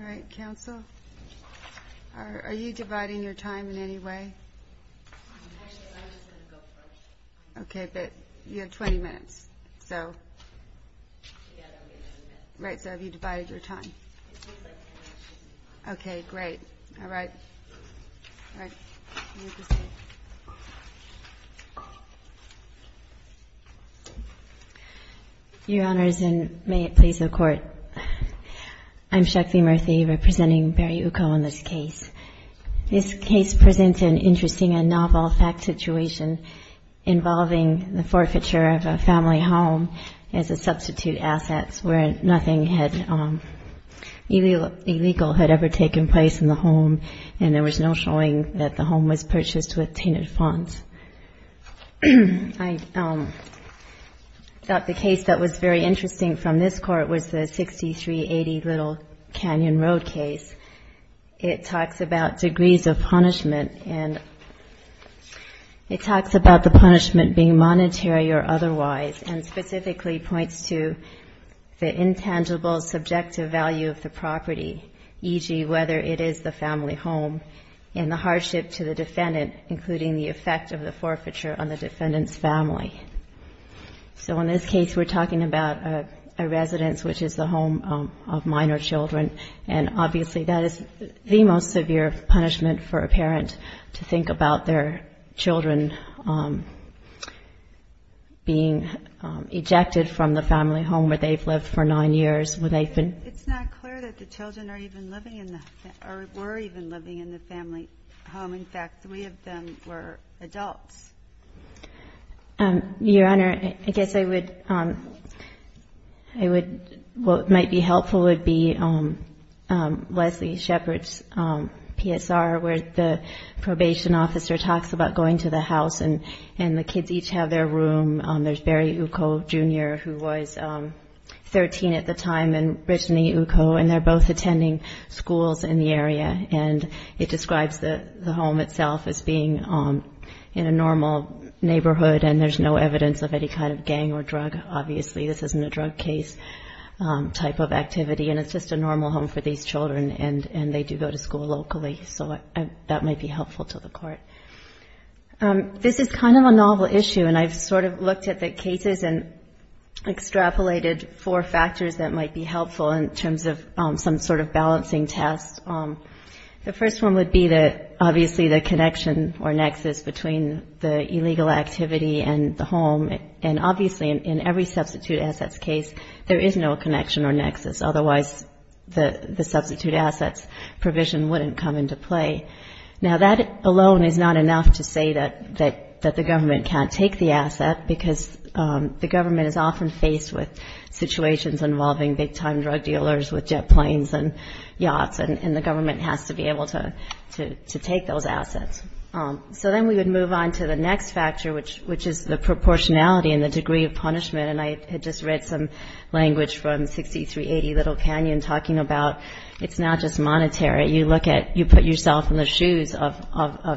All right, counsel. Are you dividing your time in any way? Actually, I'm just going to go first. Okay, but you have 20 minutes, so... Yeah, that would be 20 minutes. Right, so have you divided your time? It seems like 10 minutes isn't enough. Okay, great. All right. All right. You can proceed. Your Honors, and may it please the Court, I'm Shekli Murthy, representing Barry Uko in this case. This case presents an interesting and novel fact situation involving the forfeiture of a family home as a substitute asset, where nothing illegal had ever taken place in the home, and there was no showing that the home was purchased with tainted funds. I thought the case that was very interesting from this Court was the 6380 Little Canyon Road case. It talks about degrees of punishment, and it talks about the punishment being monetary or otherwise, and specifically points to the intangible subjective value of the property, e.g., whether it is the family home, and the hardship to the defendant, including the effect of the forfeiture on the defendant's family. So in this case, we're talking about a residence, which is the home of minor children, and obviously that is the most severe punishment for a parent, to think about their children being ejected from the family home where they've lived for nine years. It's not clear that the children were even living in the family home. In fact, three of them were adults. Your Honor, I guess what might be helpful would be Leslie Shepard's PSR, where the probation officer talks about going to the house, and the kids each have their room. There's Barry Uko, Jr., who was 13 at the time, and Brittany Uko, and they're both attending schools in the area, and it describes the home itself as being in a normal neighborhood, and there's no evidence of any kind of gang or drug, obviously. This isn't a drug case type of activity, and it's just a normal home for these children, and they do go to school locally. So that might be helpful to the Court. This is kind of a novel issue, and I've sort of looked at the cases and extrapolated four factors that might be helpful in terms of some sort of balancing test. The first one would be that obviously the connection or nexus between the illegal activity and the home, and obviously in every substitute assets case, there is no connection or nexus. Otherwise, the substitute assets provision wouldn't come into play. Now, that alone is not enough to say that the government can't take the asset, because the government is often faced with situations involving big-time drug dealers with jet planes and yachts, and the government has to be able to take those assets. So then we would move on to the next factor, which is the proportionality and the degree of punishment, and I had just read some language from 6380 Little Canyon talking about it's not just monetary. You look at you put yourself in the shoes of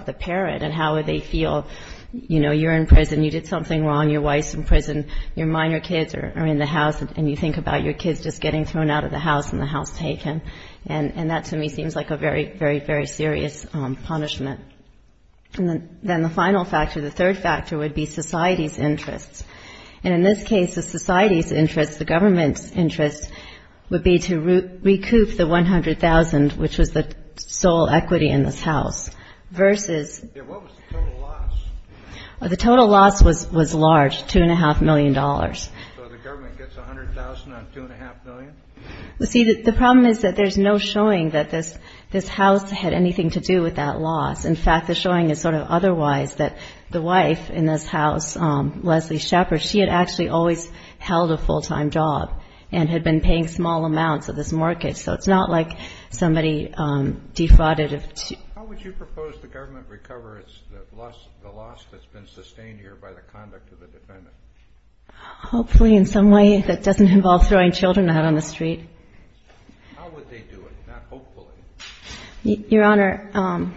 the parent, and how would they feel? You know, you're in prison. You did something wrong. Your wife's in prison. Your minor kids are in the house, and you think about your kids just getting thrown out of the house and the house taken, and that to me seems like a very, very, very serious punishment. And then the final factor, the third factor, would be society's interests. And in this case, the society's interests, the government's interests, would be to recoup the $100,000, which was the sole equity in this house, versus the total loss was large, $2.5 million. So the government gets $100,000 on $2.5 million? You see, the problem is that there's no showing that this house had anything to do with that loss. In fact, the showing is sort of otherwise, that the wife in this house, Leslie Shepard, she had actually always held a full-time job and had been paying small amounts of this mortgage. So it's not like somebody defrauded of cheap. How would you propose the government recovers the loss that's been sustained here by the conduct of the defendant? Hopefully in some way that doesn't involve throwing children out on the street. How would they do it, not hopefully? Your Honor,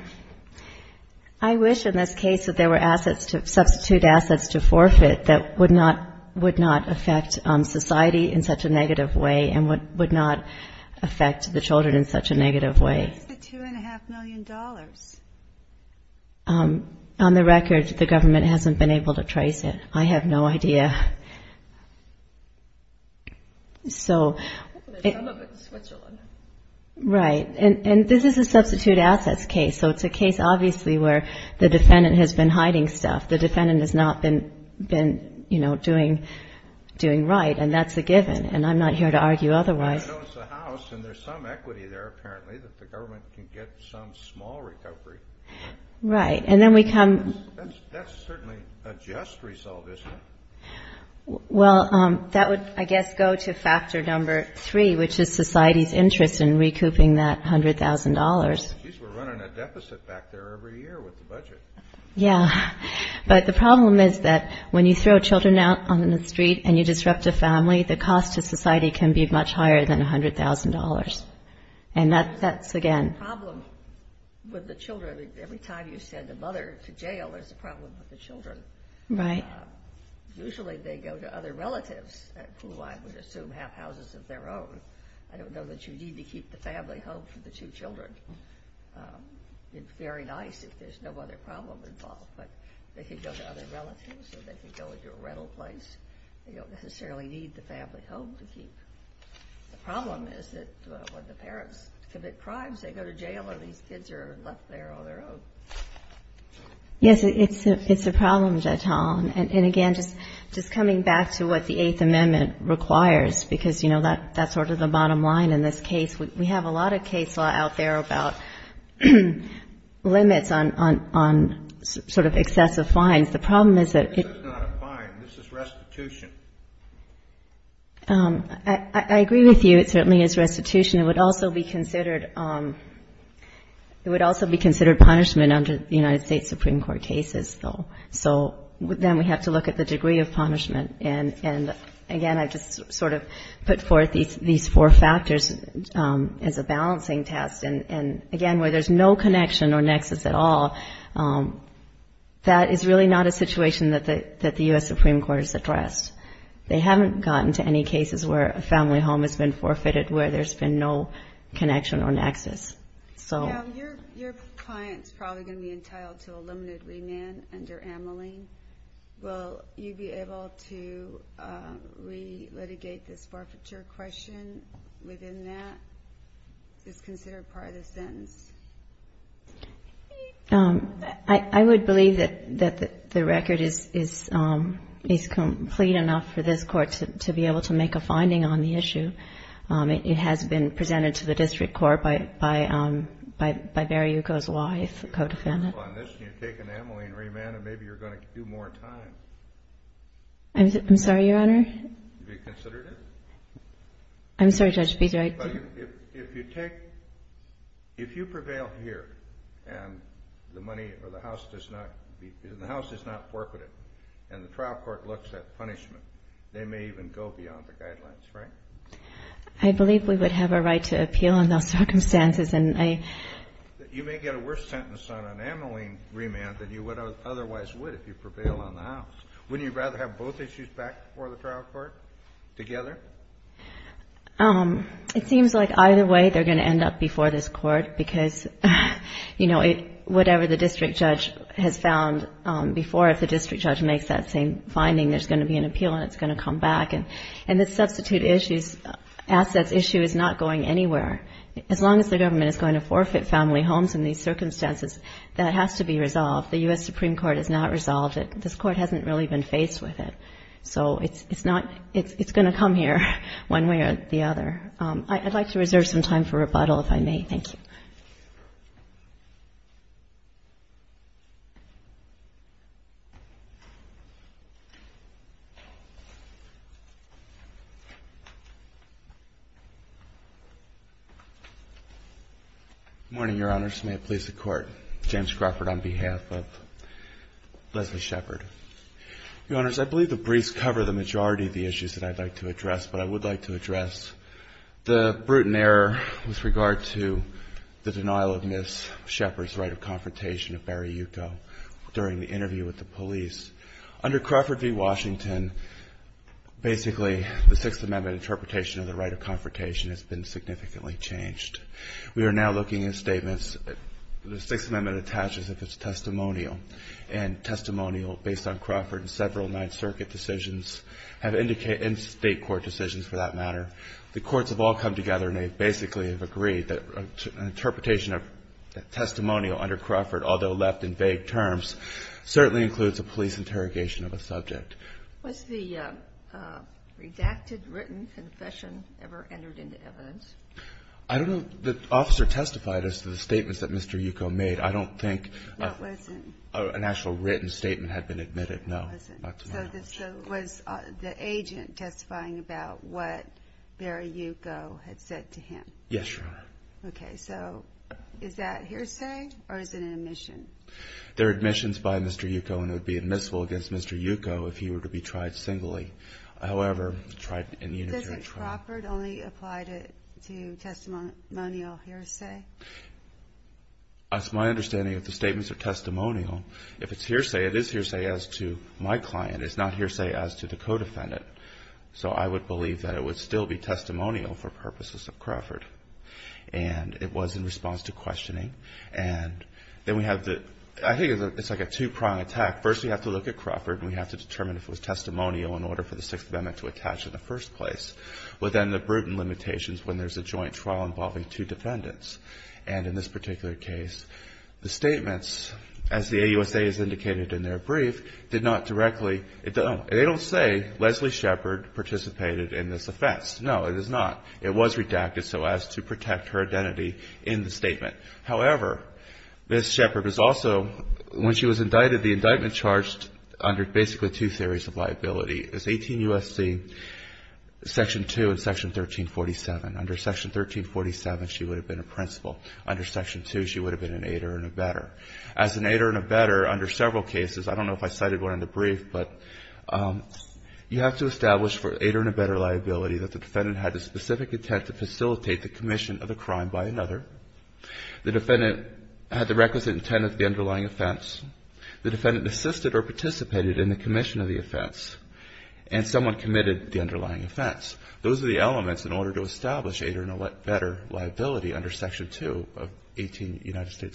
I wish in this case that there were assets to substitute assets to forfeit that would not affect society in such a negative way and would not affect the children in such a negative way. What's the $2.5 million? On the record, the government hasn't been able to trace it. I have no idea. So. Some of it's Switzerland. Right. And this is a substitute assets case. So it's a case obviously where the defendant has been hiding stuff. The defendant has not been, you know, doing right. And that's a given. And I'm not here to argue otherwise. I know it's a house and there's some equity there apparently that the government can get some small recovery. Right. And then we come. That's certainly a just result, isn't it? Well, that would, I guess, go to factor number three, which is society's interest in recouping that $100,000. Geez, we're running a deficit back there every year with the budget. Yeah. But the problem is that when you throw children out on the street and you disrupt a family, the cost to society can be much higher than $100,000. And that's, again. The problem with the children, every time you send a mother to jail, there's a problem with the children. Right. Usually they go to other relatives who I would assume have houses of their own. I don't know that you need to keep the family home for the two children. It's very nice if there's no other problem involved, but they could go to other relatives or they could go into a rental place. They don't necessarily need the family home to keep. The problem is that when the parents commit crimes, they go to jail or these kids are left there on their own. Yes, it's a problem, Judge Holland. And, again, just coming back to what the Eighth Amendment requires, because, you know, that's sort of the bottom line in this case. We have a lot of case law out there about limits on sort of excessive fines. The problem is that it's not a fine. This is restitution. I agree with you. It certainly is restitution. It would also be considered punishment under the United States Supreme Court cases, though. So then we have to look at the degree of punishment. And, again, I just sort of put forth these four factors as a balancing test. And, again, where there's no connection or nexus at all, that is really not a situation that the U.S. Supreme Court has addressed. They haven't gotten to any cases where a family home has been forfeited, where there's been no connection or nexus. Now, your client's probably going to be entitled to a limited remand under Ameline. Will you be able to re-litigate this forfeiture question within that? It's considered part of the sentence. I would believe that the record is complete enough for this Court to be able to make a finding on the issue. It has been presented to the District Court by Barry Yuko's wife, the co-defendant. If you can move on this and you take an Ameline remand, then maybe you're going to do more time. I'm sorry, Your Honor? Have you considered it? I'm sorry, Judge, but did I... If you take... If you prevail here and the money or the house does not... If the house does not forfeit it and the trial court looks at punishment, they may even go beyond the guidelines, right? I believe we would have a right to appeal in those circumstances, and I... You may get a worse sentence on an Ameline remand than you would otherwise would if you prevailed on the house. Wouldn't you rather have both issues back before the trial court together? It seems like either way they're going to end up before this Court because, you know, whatever the district judge has found before, if the district judge makes that same finding, there's going to be an appeal and it's going to come back. And the substitute assets issue is not going anywhere. As long as the government is going to forfeit family homes in these circumstances, that has to be resolved. The U.S. Supreme Court has not resolved it. This Court hasn't really been faced with it. So it's not... It's going to come here one way or the other. I'd like to reserve some time for rebuttal, if I may. Thank you. Good morning, Your Honors. May it please the Court. James Crawford on behalf of Leslie Shepard. Your Honors, I believe the briefs cover the majority of the issues that I'd like to address, but I would like to address the brutal error with regard to the denial of Ms. Shepard's right of confrontation of Barry Yuko during the interview with the police. Under Crawford v. Washington, basically, the Sixth Amendment interpretation of the right of confrontation has been significantly changed. We are now looking at statements. The Sixth Amendment attaches that it's testimonial, and testimonial based on Crawford and several Ninth Circuit decisions and state court decisions, for that matter. The courts have all come together and they basically have agreed that an interpretation of testimonial under Crawford, although left in vague terms, certainly includes a police interrogation of a subject. Was the redacted written confession ever entered into evidence? I don't know. The officer testified as to the statements that Mr. Yuko made. I don't think an actual written statement had been admitted, no. So was the agent testifying about what Barry Yuko had said to him? Yes, Your Honor. Okay. So is that hearsay or is it an admission? They're admissions by Mr. Yuko and would be admissible against Mr. Yuko if he were to be tried singly. However, tried in unitary trial. Doesn't Crawford only apply to testimonial hearsay? That's my understanding of the statements are testimonial. If it's hearsay, it is hearsay as to my client. It's not hearsay as to the co-defendant. So I would believe that it would still be testimonial for purposes of Crawford. And it was in response to questioning. And then we have the – I think it's like a two-prong attack. First, we have to look at Crawford and we have to determine if it was testimonial in order for the Sixth Amendment to attach in the first place. But then the Bruton limitations when there's a joint trial involving two defendants. And in this particular case, the statements, as the AUSA has indicated in their brief, did not directly – they don't say Leslie Shepard participated in this offense. No, it is not. It was redacted so as to protect her identity in the statement. However, Ms. Shepard was also – when she was indicted, the indictment charged under basically two theories of liability. It's 18 U.S.C. section 2 and section 1347. Under section 1347, she would have been a principal. Under section 2, she would have been an aider and abetter. As an aider and abetter, under several cases – I don't know if I cited one in the brief, but you have to establish for aider and abetter liability that the defendant had the specific intent to facilitate the commission of the crime by another. The defendant had the requisite intent of the underlying offense. The defendant assisted or participated in the commission of the offense. And someone committed the underlying offense. Those are the elements in order to establish aider and abetter liability under section 2 of 18 U.S.C.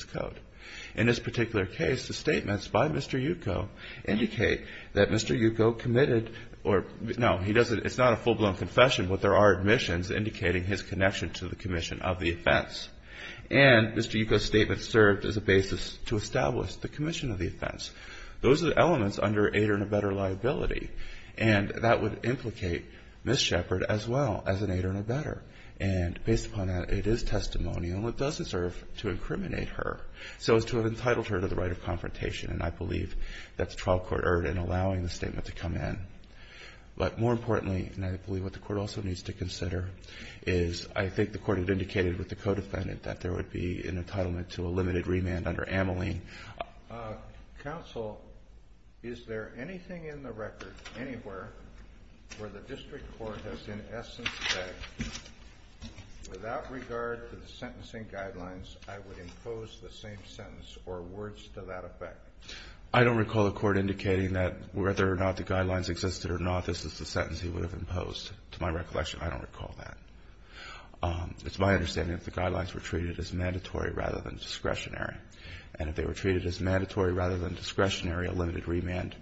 In this particular case, the statements by Mr. Yuko indicate that Mr. Yuko committed – no, he doesn't – it's not a full-blown confession, And Mr. Yuko's statement served as a basis to establish the commission of the offense. Those are the elements under aider and abetter liability. And that would implicate Ms. Sheppard as well as an aider and abetter. And based upon that, it is testimonial and it does deserve to incriminate her so as to have entitled her to the right of confrontation. And I believe that the trial court erred in allowing the statement to come in. But more importantly, and I believe what the Court also needs to consider, is I think the Court had indicated with the co-defendant that there would be an entitlement to a limited remand under Ameline. Counsel, is there anything in the record anywhere where the district court has in essence said, without regard to the sentencing guidelines, I would impose the same sentence or words to that effect? I don't recall the Court indicating that whether or not the guidelines existed or not, this is the sentence he would have imposed. To my recollection, I don't recall that. It's my understanding that the guidelines were treated as mandatory rather than discretionary. And if they were treated as mandatory rather than discretionary, a limited remand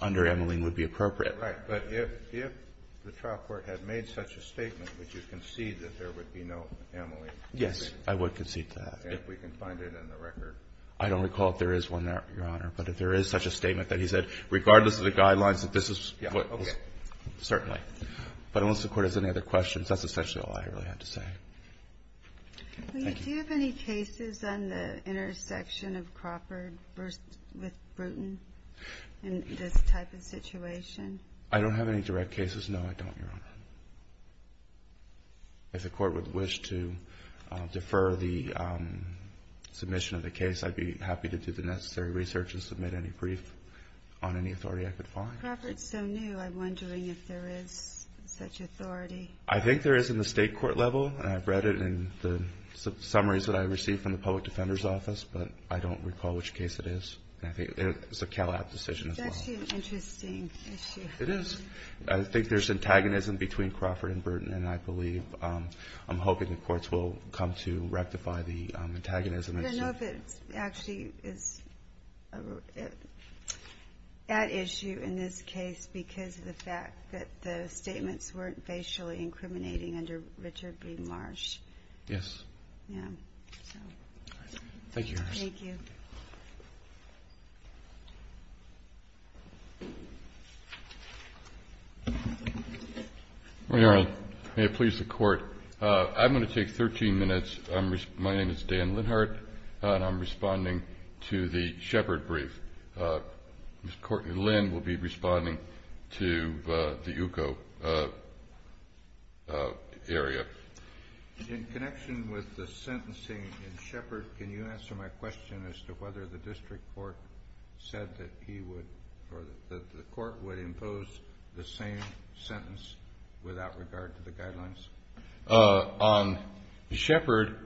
under Ameline would be appropriate. Right. But if the trial court had made such a statement, would you concede that there would be no Ameline? Yes. I would concede to that. And if we can find it in the record? I don't recall if there is one, Your Honor. But if there is such a statement that he said, regardless of the guidelines, that this is what was ---- Okay. Certainly. But unless the Court has any other questions, that's essentially all I really had to say. Thank you. Do you have any cases on the intersection of Crawford versus Bruton in this type of situation? I don't have any direct cases, no, I don't, Your Honor. If the Court would wish to defer the submission of the case, I'd be happy to do the necessary research and submit any brief on any authority I could find. Crawford is so new. I'm wondering if there is such authority. I think there is in the state court level, and I've read it in the summaries that I received from the Public Defender's Office, but I don't recall which case it is. I think it's a Calab decision as well. It's actually an interesting issue. It is. I think there's antagonism between Crawford and Bruton, and I believe, I'm hoping the courts will come to rectify the antagonism. I don't know if it actually is at issue in this case because of the fact that the statements weren't facially incriminating under Richard B. Marsh. Yes. Yeah. Thank you, Your Honor. Thank you. Your Honor, may it please the Court. I'm going to take 13 minutes. My name is Dan Linhart, and I'm responding to the Shepard brief. Ms. Courtney Lynn will be responding to the UCO area. In connection with the sentencing in Shepard, can you answer my question as to whether the district court said that the court would impose the same sentence without regard to the guidelines? On Shepard,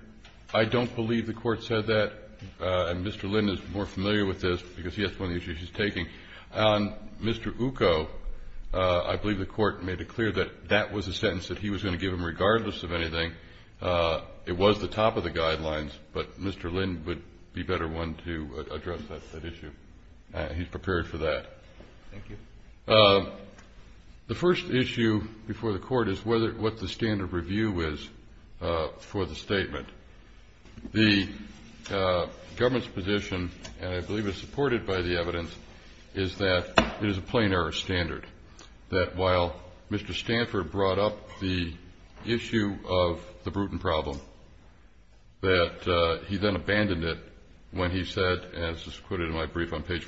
I don't believe the court said that. And Mr. Lynn is more familiar with this because he has one of the issues he's taking. On Mr. UCO, I believe the court made it clear that that was a sentence that he was going to give him regardless of anything. It was the top of the guidelines, but Mr. Lynn would be a better one to address that issue. He's prepared for that. Thank you. The first issue before the court is what the standard review is for the statement. The government's position, and I believe it's supported by the evidence, is that it is a plain error standard, that while Mr. Stanford brought up the issue of the Bruton problem, that he then abandoned it when he said, and this is Mr.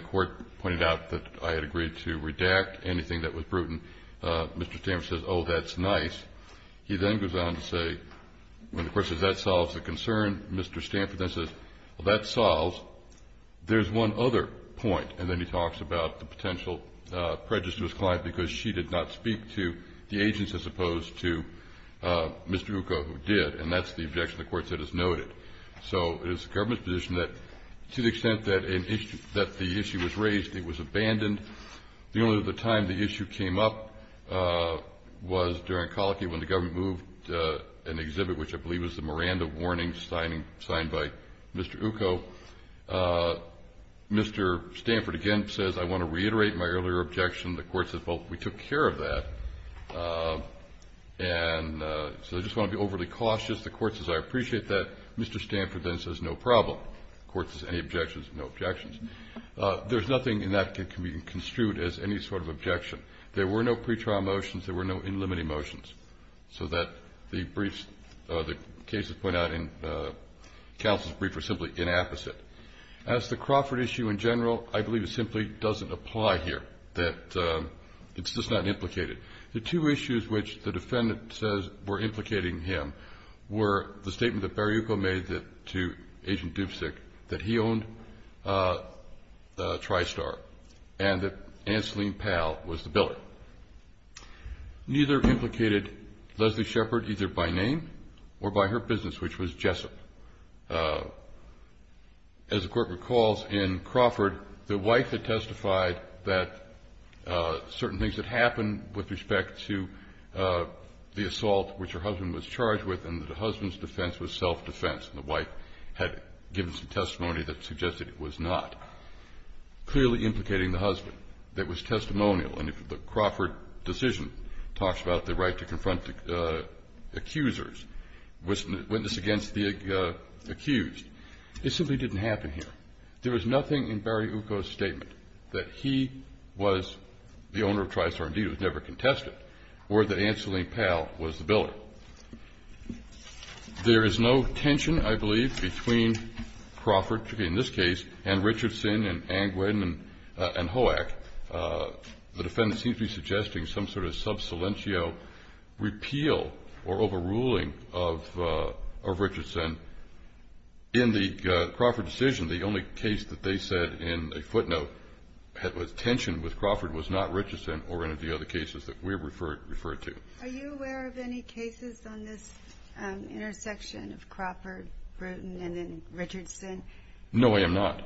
Stanford, pointed out that I had agreed to redact anything that was Bruton. Mr. Stanford says, oh, that's nice. He then goes on to say, when the court says that solves the concern, Mr. Stanford then says, well, that solves. There's one other point. And then he talks about the potential prejudice to his client because she did not speak to the agents as opposed to Mr. UCO, who did. And that's the objection the court said is noted. So it is the government's position that to the extent that the issue was raised, it was abandoned. The only other time the issue came up was during Colicky when the government moved an exhibit, which I believe was the Miranda warning signed by Mr. UCO. Mr. Stanford again says, I want to reiterate my earlier objection. The court says, well, we took care of that. And so I just want to be overly cautious. The court says, I appreciate that. Mr. Stanford then says, no problem. The court says, any objections? No objections. There's nothing in that that can be construed as any sort of objection. There were no pretrial motions. There were no in limited motions so that the briefs, the cases pointed out in counsel's brief were simply inapposite. As the Crawford issue in general, I believe it simply doesn't apply here, that it's just not implicated. The two issues which the defendant says were implicating him were the statement that Barry UCO made to Agent Dubczyk that he owned TriStar and that Anseline Powell was the biller. Neither implicated Leslie Shepard either by name or by her business, which was Jessup. As the court recalls in Crawford, the wife had testified that certain things had happened with respect to the assault which her husband was charged with and that the husband's defense was self-defense. And the wife had given some testimony that suggested it was not. Clearly implicating the husband, that was testimonial. And if the Crawford decision talks about the right to confront accusers, witness against the accused, it simply didn't happen here. There is nothing in Barry UCO's statement that he was the owner of TriStar, indeed was never contested, or that Anseline Powell was the biller. There is no tension, I believe, between Crawford, in this case, and Richardson and Angwin and Hoack. The defendant seems to be suggesting some sort of subsilentio repeal or overruling of Richardson. In the Crawford decision, the only case that they said in a footnote had tension with Crawford was not Richardson or any of the other cases that we referred to. Are you aware of any cases on this intersection of Crawford, Bruton, and then Richardson? No, I am not.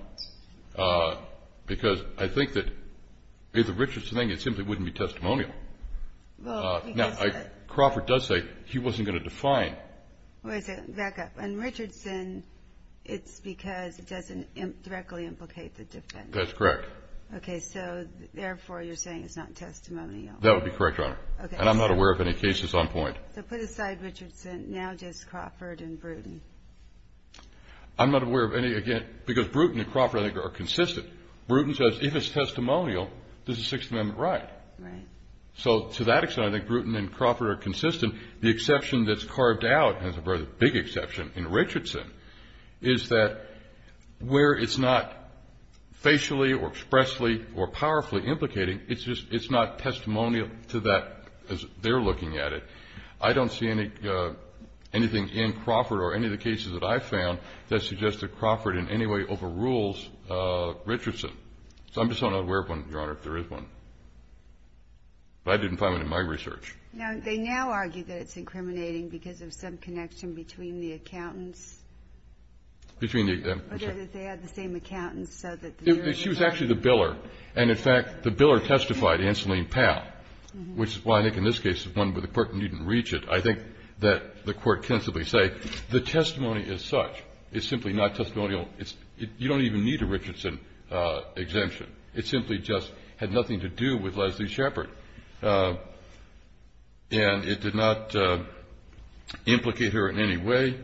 Because I think that the Richardson thing, it simply wouldn't be testimonial. Crawford does say he wasn't going to define. And Richardson, it's because it doesn't directly implicate the defendant. That's correct. Okay, so therefore you're saying it's not testimonial. That would be correct, Your Honor. And I'm not aware of any cases on point. So put aside Richardson, now just Crawford and Bruton. I'm not aware of any, again, because Bruton and Crawford I think are consistent. Bruton says if it's testimonial, this is Sixth Amendment right. Right. So to that extent, I think Bruton and Crawford are consistent. The exception that's carved out, and it's a very big exception in Richardson, is that where it's not facially or expressly or powerfully implicating, it's just it's not testimonial to that as they're looking at it. I don't see anything in Crawford or any of the cases that I've found that suggest that Crawford in any way overrules Richardson. So I'm just not aware of one, Your Honor, if there is one. But I didn't find one in my research. Now, they now argue that it's incriminating because of some connection between the accountants. Between the accountants. Or that they had the same accountants so that the jurors can't. She was actually the biller. And, in fact, the biller testified, Anseline Powell, which is why I think in this case it's one where the Court needn't reach it. I think that the Court can simply say the testimony is such. It's simply not testimonial. You don't even need a Richardson exemption. It simply just had nothing to do with Leslie Shepard. And it did not implicate her in any way.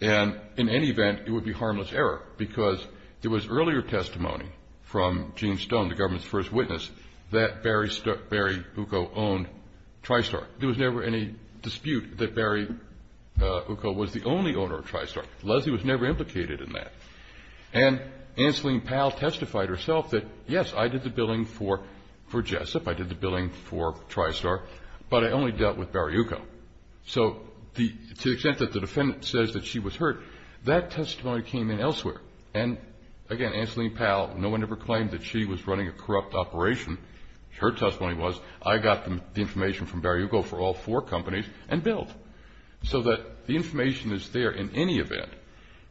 And, in any event, it would be harmless error because there was earlier testimony from Gene Stone, the government's first witness, that Barry Uko owned TriStar. There was never any dispute that Barry Uko was the only owner of TriStar. Leslie was never implicated in that. And Anseline Powell testified herself that, yes, I did the billing for Jessup. I did the billing for TriStar. But I only dealt with Barry Uko. So to the extent that the defendant says that she was hurt, that testimony came in elsewhere. And, again, Anseline Powell, no one ever claimed that she was running a corrupt operation. Her testimony was, I got the information from Barry Uko for all four companies and billed. So that the information is there in any event.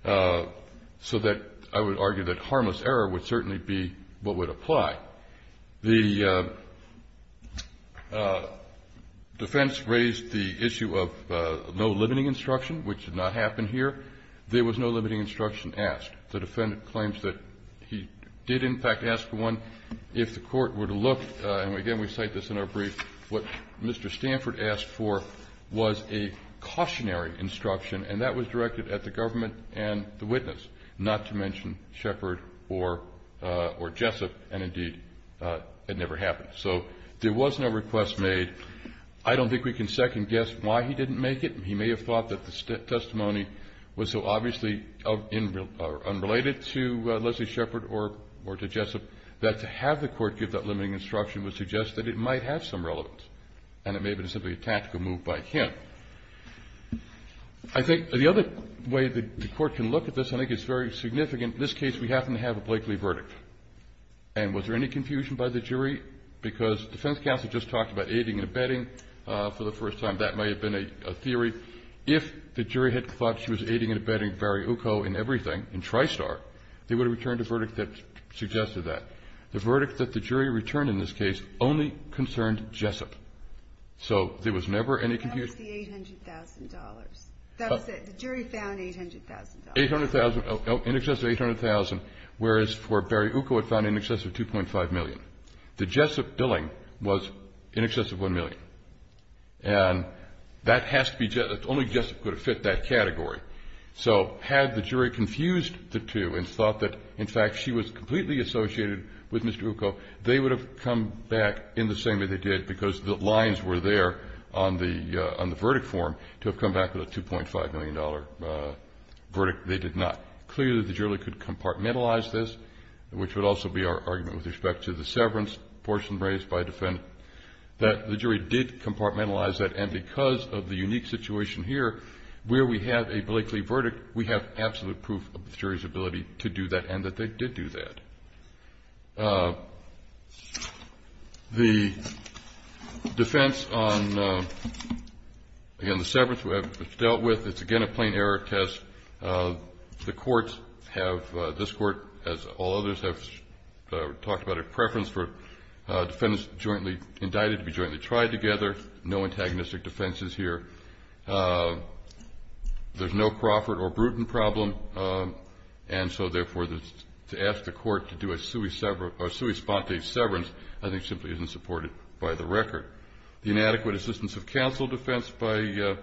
So that I would argue that harmless error would certainly be what would apply. The defense raised the issue of no limiting instruction, which did not happen here. There was no limiting instruction asked. The defendant claims that he did, in fact, ask one. If the court were to look, and, again, we cite this in our brief, what Mr. Stanford asked for was a cautionary instruction. And that was directed at the government and the witness, not to mention Shepard or Jessup. And, indeed, it never happened. So there was no request made. I don't think we can second-guess why he didn't make it. He may have thought that the testimony was so obviously unrelated to Leslie Shepard or to Jessup. That to have the court give that limiting instruction would suggest that it might have some relevance. And it may have been simply a tactical move by him. I think the other way the court can look at this, I think, is very significant. In this case, we happen to have a Blakely verdict. And was there any confusion by the jury? Because defense counsel just talked about aiding and abetting for the first time. That may have been a theory. If the jury had thought she was aiding and abetting Barry Uko in everything, in Tristar, they would have returned a verdict that suggested that. The verdict that the jury returned in this case only concerned Jessup. So there was never any confusion. That was the $800,000. That was it. The jury found $800,000. In excess of $800,000, whereas for Barry Uko it found in excess of $2.5 million. The Jessup billing was in excess of $1 million. And that has to be Jessup. Only Jessup could have fit that category. So had the jury confused the two and thought that, in fact, she was completely associated with Mr. Uko, they would have come back in the same way they did, because the lines were there on the verdict form to have come back with a $2.5 million verdict. They did not. Clearly, the jury could compartmentalize this, which would also be our argument with respect to the severance portion raised by a defendant, that the jury did compartmentalize that. And because of the unique situation here where we have a Blakely verdict, we have absolute proof of the jury's ability to do that and that they did do that. The defense on, again, the severance was dealt with. It's, again, a plain error test. The courts have, this court, as all others have talked about, a preference for defendants jointly indicted to be jointly tried together. No antagonistic defenses here. There's no Crawford or Bruton problem. And so, therefore, to ask the court to do a sui sponte severance, I think, simply isn't supported by the record. The inadequate assistance of counsel defense by the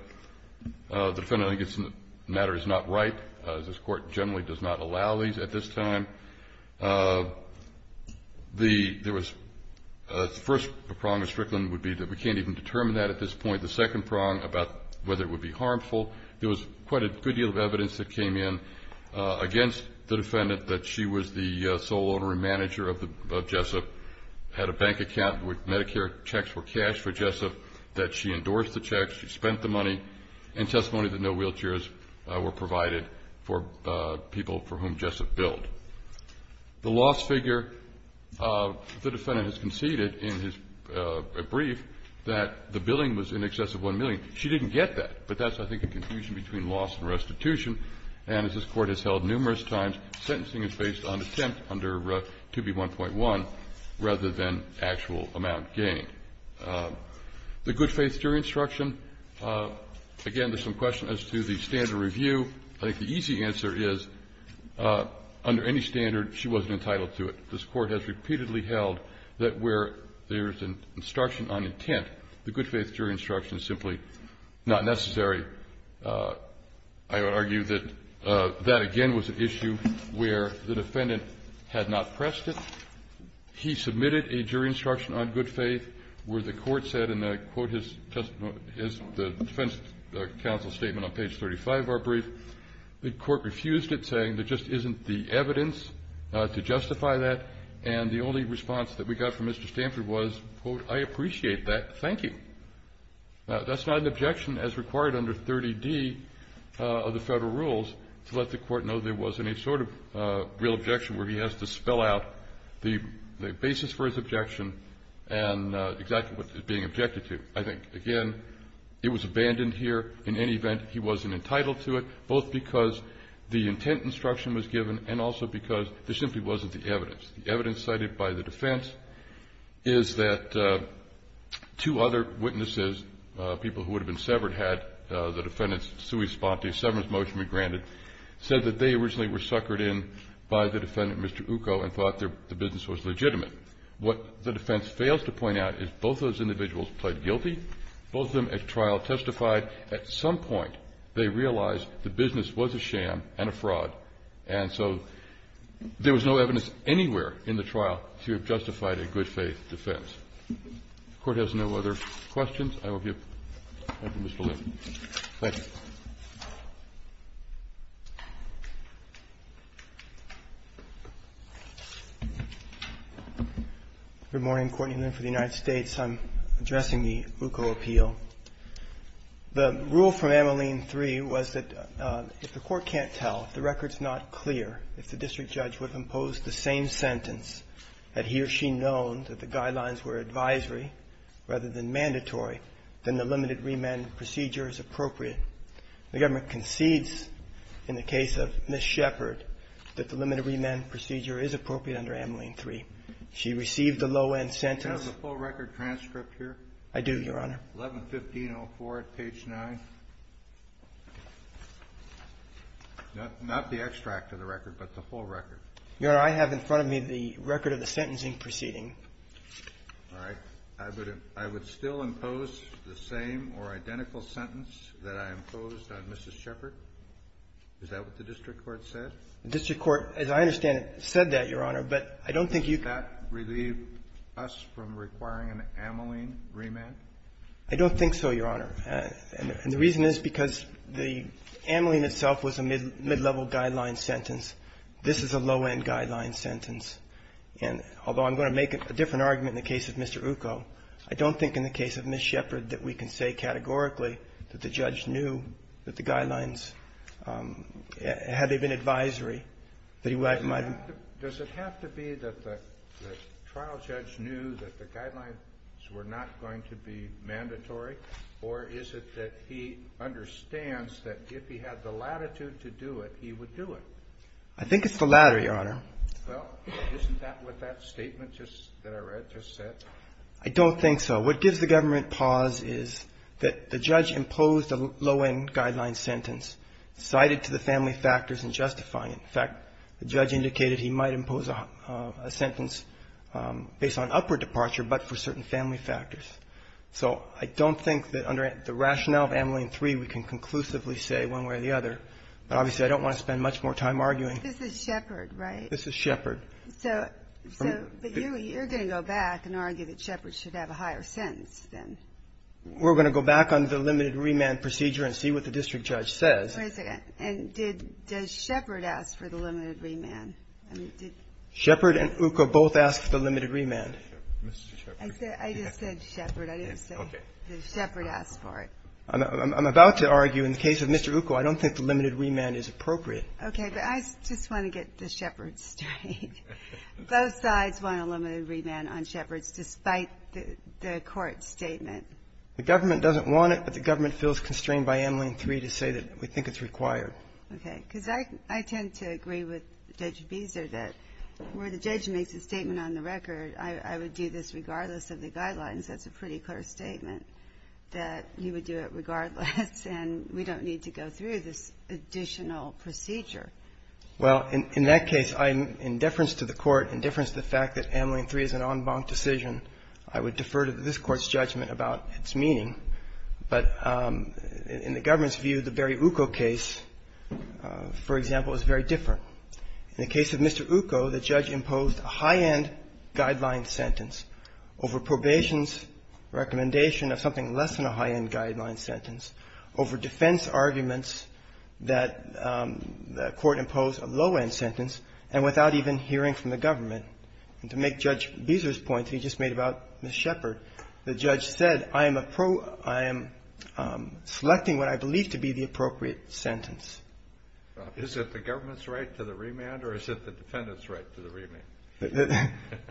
defendant, I think, in this matter is not right. This court generally does not allow these at this time. The first prong of Strickland would be that we can't even determine that at this point. The second prong about whether it would be harmful, there was quite a good deal of evidence that came in against the defendant, that she was the sole owner and manager of Jessup, had a bank account with Medicare checks for cash for Jessup, that she endorsed the checks, she spent the money, and testimony that no wheelchairs were provided for people for whom Jessup billed. The loss figure, the defendant has conceded in his brief that the billing was in excess of $1 million. She didn't get that, but that's, I think, a confusion between loss and restitution. And as this court has held numerous times, sentencing is based on attempt under 2B1.1 rather than actual amount gained. The good faith jury instruction, again, there's some question as to the standard review. I think the easy answer is, under any standard, she wasn't entitled to it. This Court has repeatedly held that where there's an instruction on intent, the good faith jury instruction is simply not necessary. I would argue that that, again, was an issue where the defendant had not pressed it. He submitted a jury instruction on good faith where the court said, and I quote his defense counsel statement on page 35 of our brief, the court refused it, saying there just isn't the evidence to justify that. And the only response that we got from Mr. Stanford was, quote, I appreciate that. Thank you. That's not an objection as required under 30D of the federal rules to let the court know there was any sort of real objection where he has to spell out the basis for his objection and exactly what it's being objected to. I think, again, it was abandoned here. In any event, he wasn't entitled to it, both because the intent instruction was given and also because there simply wasn't the evidence. The evidence cited by the defense is that two other witnesses, people who would have been severed, had the defendant's sui sponte, severance motion be granted, said that they originally were suckered in by the defendant, Mr. Ukko, and thought the business was legitimate. What the defense fails to point out is both those individuals pled guilty. Both of them at trial testified. At some point, they realized the business was a sham and a fraud, and so there was no evidence anywhere in the trial to have justified a good faith defense. The Court has no other questions. I will give the floor to Mr. Liff. Thank you. Liff. Good morning. Courtney Liff with the United States. I'm addressing the Ukko appeal. The rule from Ameline 3 was that if the court can't tell, if the record's not clear, if the district judge would have imposed the same sentence, had he or she known that the guidelines were advisory rather than mandatory, then the limited remand procedure is appropriate. The government concedes in the case of Ms. Shepard that the limited remand procedure is appropriate under Ameline 3. She received a low-end sentence. Do you have the full record transcript here? I do, Your Honor. 11-1504 at page 9. Not the extract of the record, but the full record. Your Honor, I have in front of me the record of the sentencing proceeding. All right. I would still impose the same or identical sentence that I imposed on Mrs. Shepard? Is that what the district court said? The district court, as I understand it, said that, Your Honor, but I don't think you can do that. Does that relieve us from requiring an Ameline remand? I don't think so, Your Honor. And the reason is because the Ameline itself was a mid-level guideline sentence. This is a low-end guideline sentence. And although I'm going to make a different argument in the case of Mr. Ukko, I don't think in the case of Ms. Shepard that we can say categorically that the judge knew that the guidelines, had they been advisory, that he might have been. Does it have to be that the trial judge knew that the guidelines were not going to be mandatory, or is it that he understands that if he had the latitude to do it, he would do it? I think it's the latter, Your Honor. Well, isn't that what that statement just that I read just said? I don't think so. What gives the government pause is that the judge imposed a low-end guideline sentence cited to the family factors in justifying it. In fact, the judge indicated he might impose a sentence based on upward departure, but for certain family factors. So I don't think that under the rationale of Ameline 3, we can conclusively say one way or the other. But obviously, I don't want to spend much more time arguing. This is Shepard, right? This is Shepard. So you're going to go back and argue that Shepard should have a higher sentence then? We're going to go back on the limited remand procedure and see what the district judge says. Wait a second. And did Shepard ask for the limited remand? Shepard and Ukko both asked for the limited remand. I just said Shepard. I didn't say that Shepard asked for it. I'm about to argue in the case of Mr. Ukko, I don't think the limited remand is appropriate. Okay. But I just want to get the Shepard story. Both sides want a limited remand on Shepard's despite the court's statement. The government doesn't want it, but the government feels constrained by Ameline 3 to say that we think it's required. Okay. Because I tend to agree with Judge Beezer that where the judge makes a statement on the record, I would do this regardless of the guidelines. That's a pretty clear statement that he would do it regardless, and we don't need to go through this additional procedure. Well, in that case, in deference to the Court, in deference to the fact that Ameline 3 is an en banc decision, I would defer to this Court's judgment about its meaning. But in the government's view, the Barry Ukko case, for example, is very different. In the case of Mr. Ukko, the judge imposed a high-end guideline sentence over probation recommendation of something less than a high-end guideline sentence over defense arguments that the Court imposed a low-end sentence and without even hearing from the government. And to make Judge Beezer's point that he just made about Ms. Shepard, the judge said, I am selecting what I believe to be the appropriate sentence. Is it the government's right to the remand or is it the defendant's right to the remand?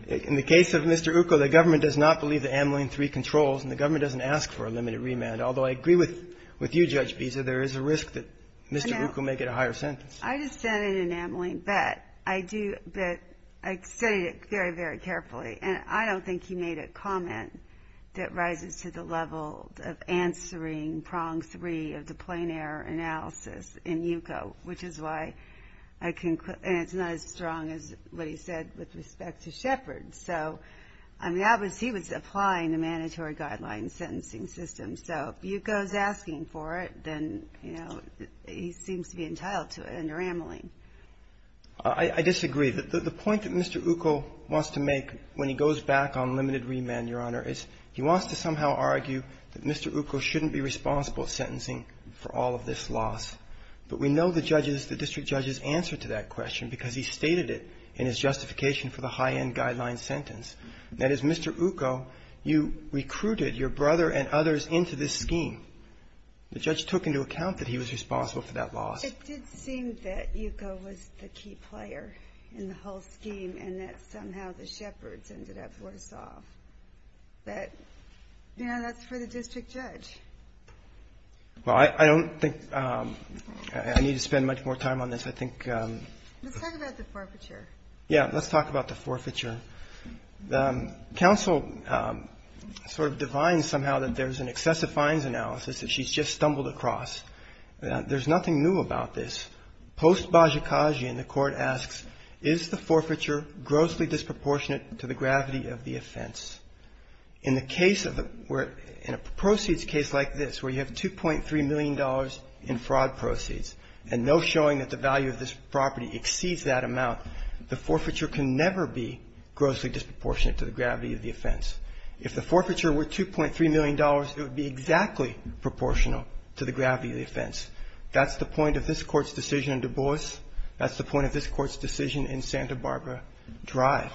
In the case of Mr. Ukko, the government does not believe that Ameline 3 controls and the government doesn't ask for a limited remand, although I agree with you, Judge Beezer, there is a risk that Mr. Ukko may get a higher sentence. I just said it in Ameline, but I do – but I said it very, very carefully. And I don't think he made a comment that rises to the level of answering prong 3 of the plein air analysis in Ukko, which is why I can – and it's not as strong as what he said with respect to Shepard. So I mean, obviously, he was applying the mandatory guideline sentencing system. So if Ukko is asking for it, then, you know, he seems to be entitled to it under Ameline. I disagree. The point that Mr. Ukko wants to make when he goes back on limited remand, Your Honor, is he wants to somehow argue that Mr. Ukko shouldn't be responsible for sentencing for all of this loss. But we know the judge's – the district judge's answer to that question because he stated it in his justification for the high-end guideline sentence. That is, Mr. Ukko, you recruited your brother and others into this scheme. The judge took into account that he was responsible for that loss. It did seem that Ukko was the key player in the whole scheme and that somehow the Shepards ended up worse off. But, you know, that's for the district judge. Well, I don't think – I need to spend much more time on this. I think – Let's talk about the forfeiture. Yeah. Let's talk about the forfeiture. Counsel sort of defines somehow that there's an excessive fines analysis that she's just stumbled across. There's nothing new about this. Post-Bajikagian, the Court asks, is the forfeiture grossly disproportionate to the gravity of the offense? In the case of the – in a proceeds case like this where you have $2.3 million in fraud proceeds and no showing that the value of this property exceeds that amount, the forfeiture can never be grossly disproportionate to the gravity of the offense. If the forfeiture were $2.3 million, it would be exactly proportional to the gravity of the offense. That's the point of this Court's decision in Du Bois. That's the point of this Court's decision in Santa Barbara Drive.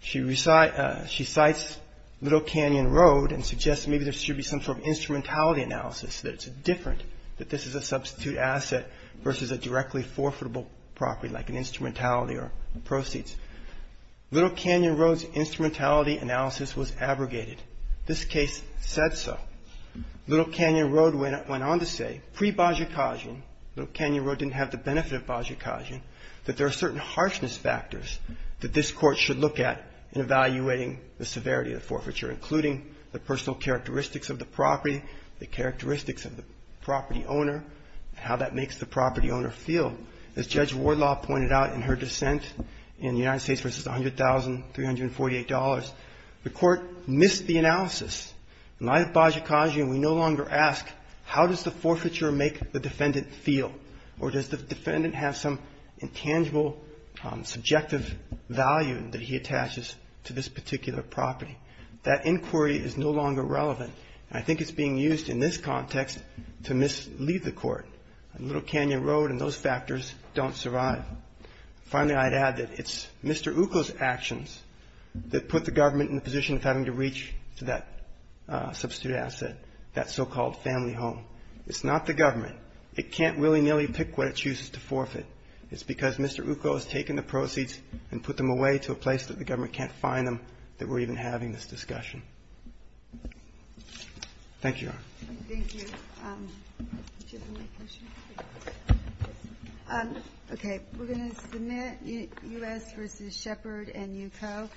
She recites Little Canyon Road and suggests maybe there should be some sort of instrumentality analysis that it's different, that this is a substitute asset versus a directly forfeitable property like an instrumentality or proceeds. Little Canyon Road's instrumentality analysis was abrogated. This case said so. Little Canyon Road went on to say, pre-Bajikagian, Little Canyon Road didn't have the benefit of Bajikagian, that there are certain harshness factors that this Court should look at in evaluating the severity of the forfeiture, including the personal characteristics of the property, the characteristics of the property owner, how that makes the property owner feel. As Judge Wardlaw pointed out in her dissent in the United States versus $100,348, the Court missed the analysis. In light of Bajikagian, we no longer ask how does the forfeiture make the defendant feel or does the defendant have some intangible subjective value that he attaches to this particular property. That inquiry is no longer relevant. I think it's being used in this context to mislead the Court. Little Canyon Road and those factors don't survive. Finally, I'd add that it's Mr. Ukul's actions that put the government in a position of having to reach to that substitute asset, that so-called family home. It's not the government. It can't willy-nilly pick what it chooses to forfeit. It's because Mr. Ukul has taken the proceeds and put them away to a place that the government can't find them that we're even having this discussion. Thank you, Your Honor. Thank you. Do you have any more questions? Okay. We're going to submit U.S. versus Shepard and Ukul.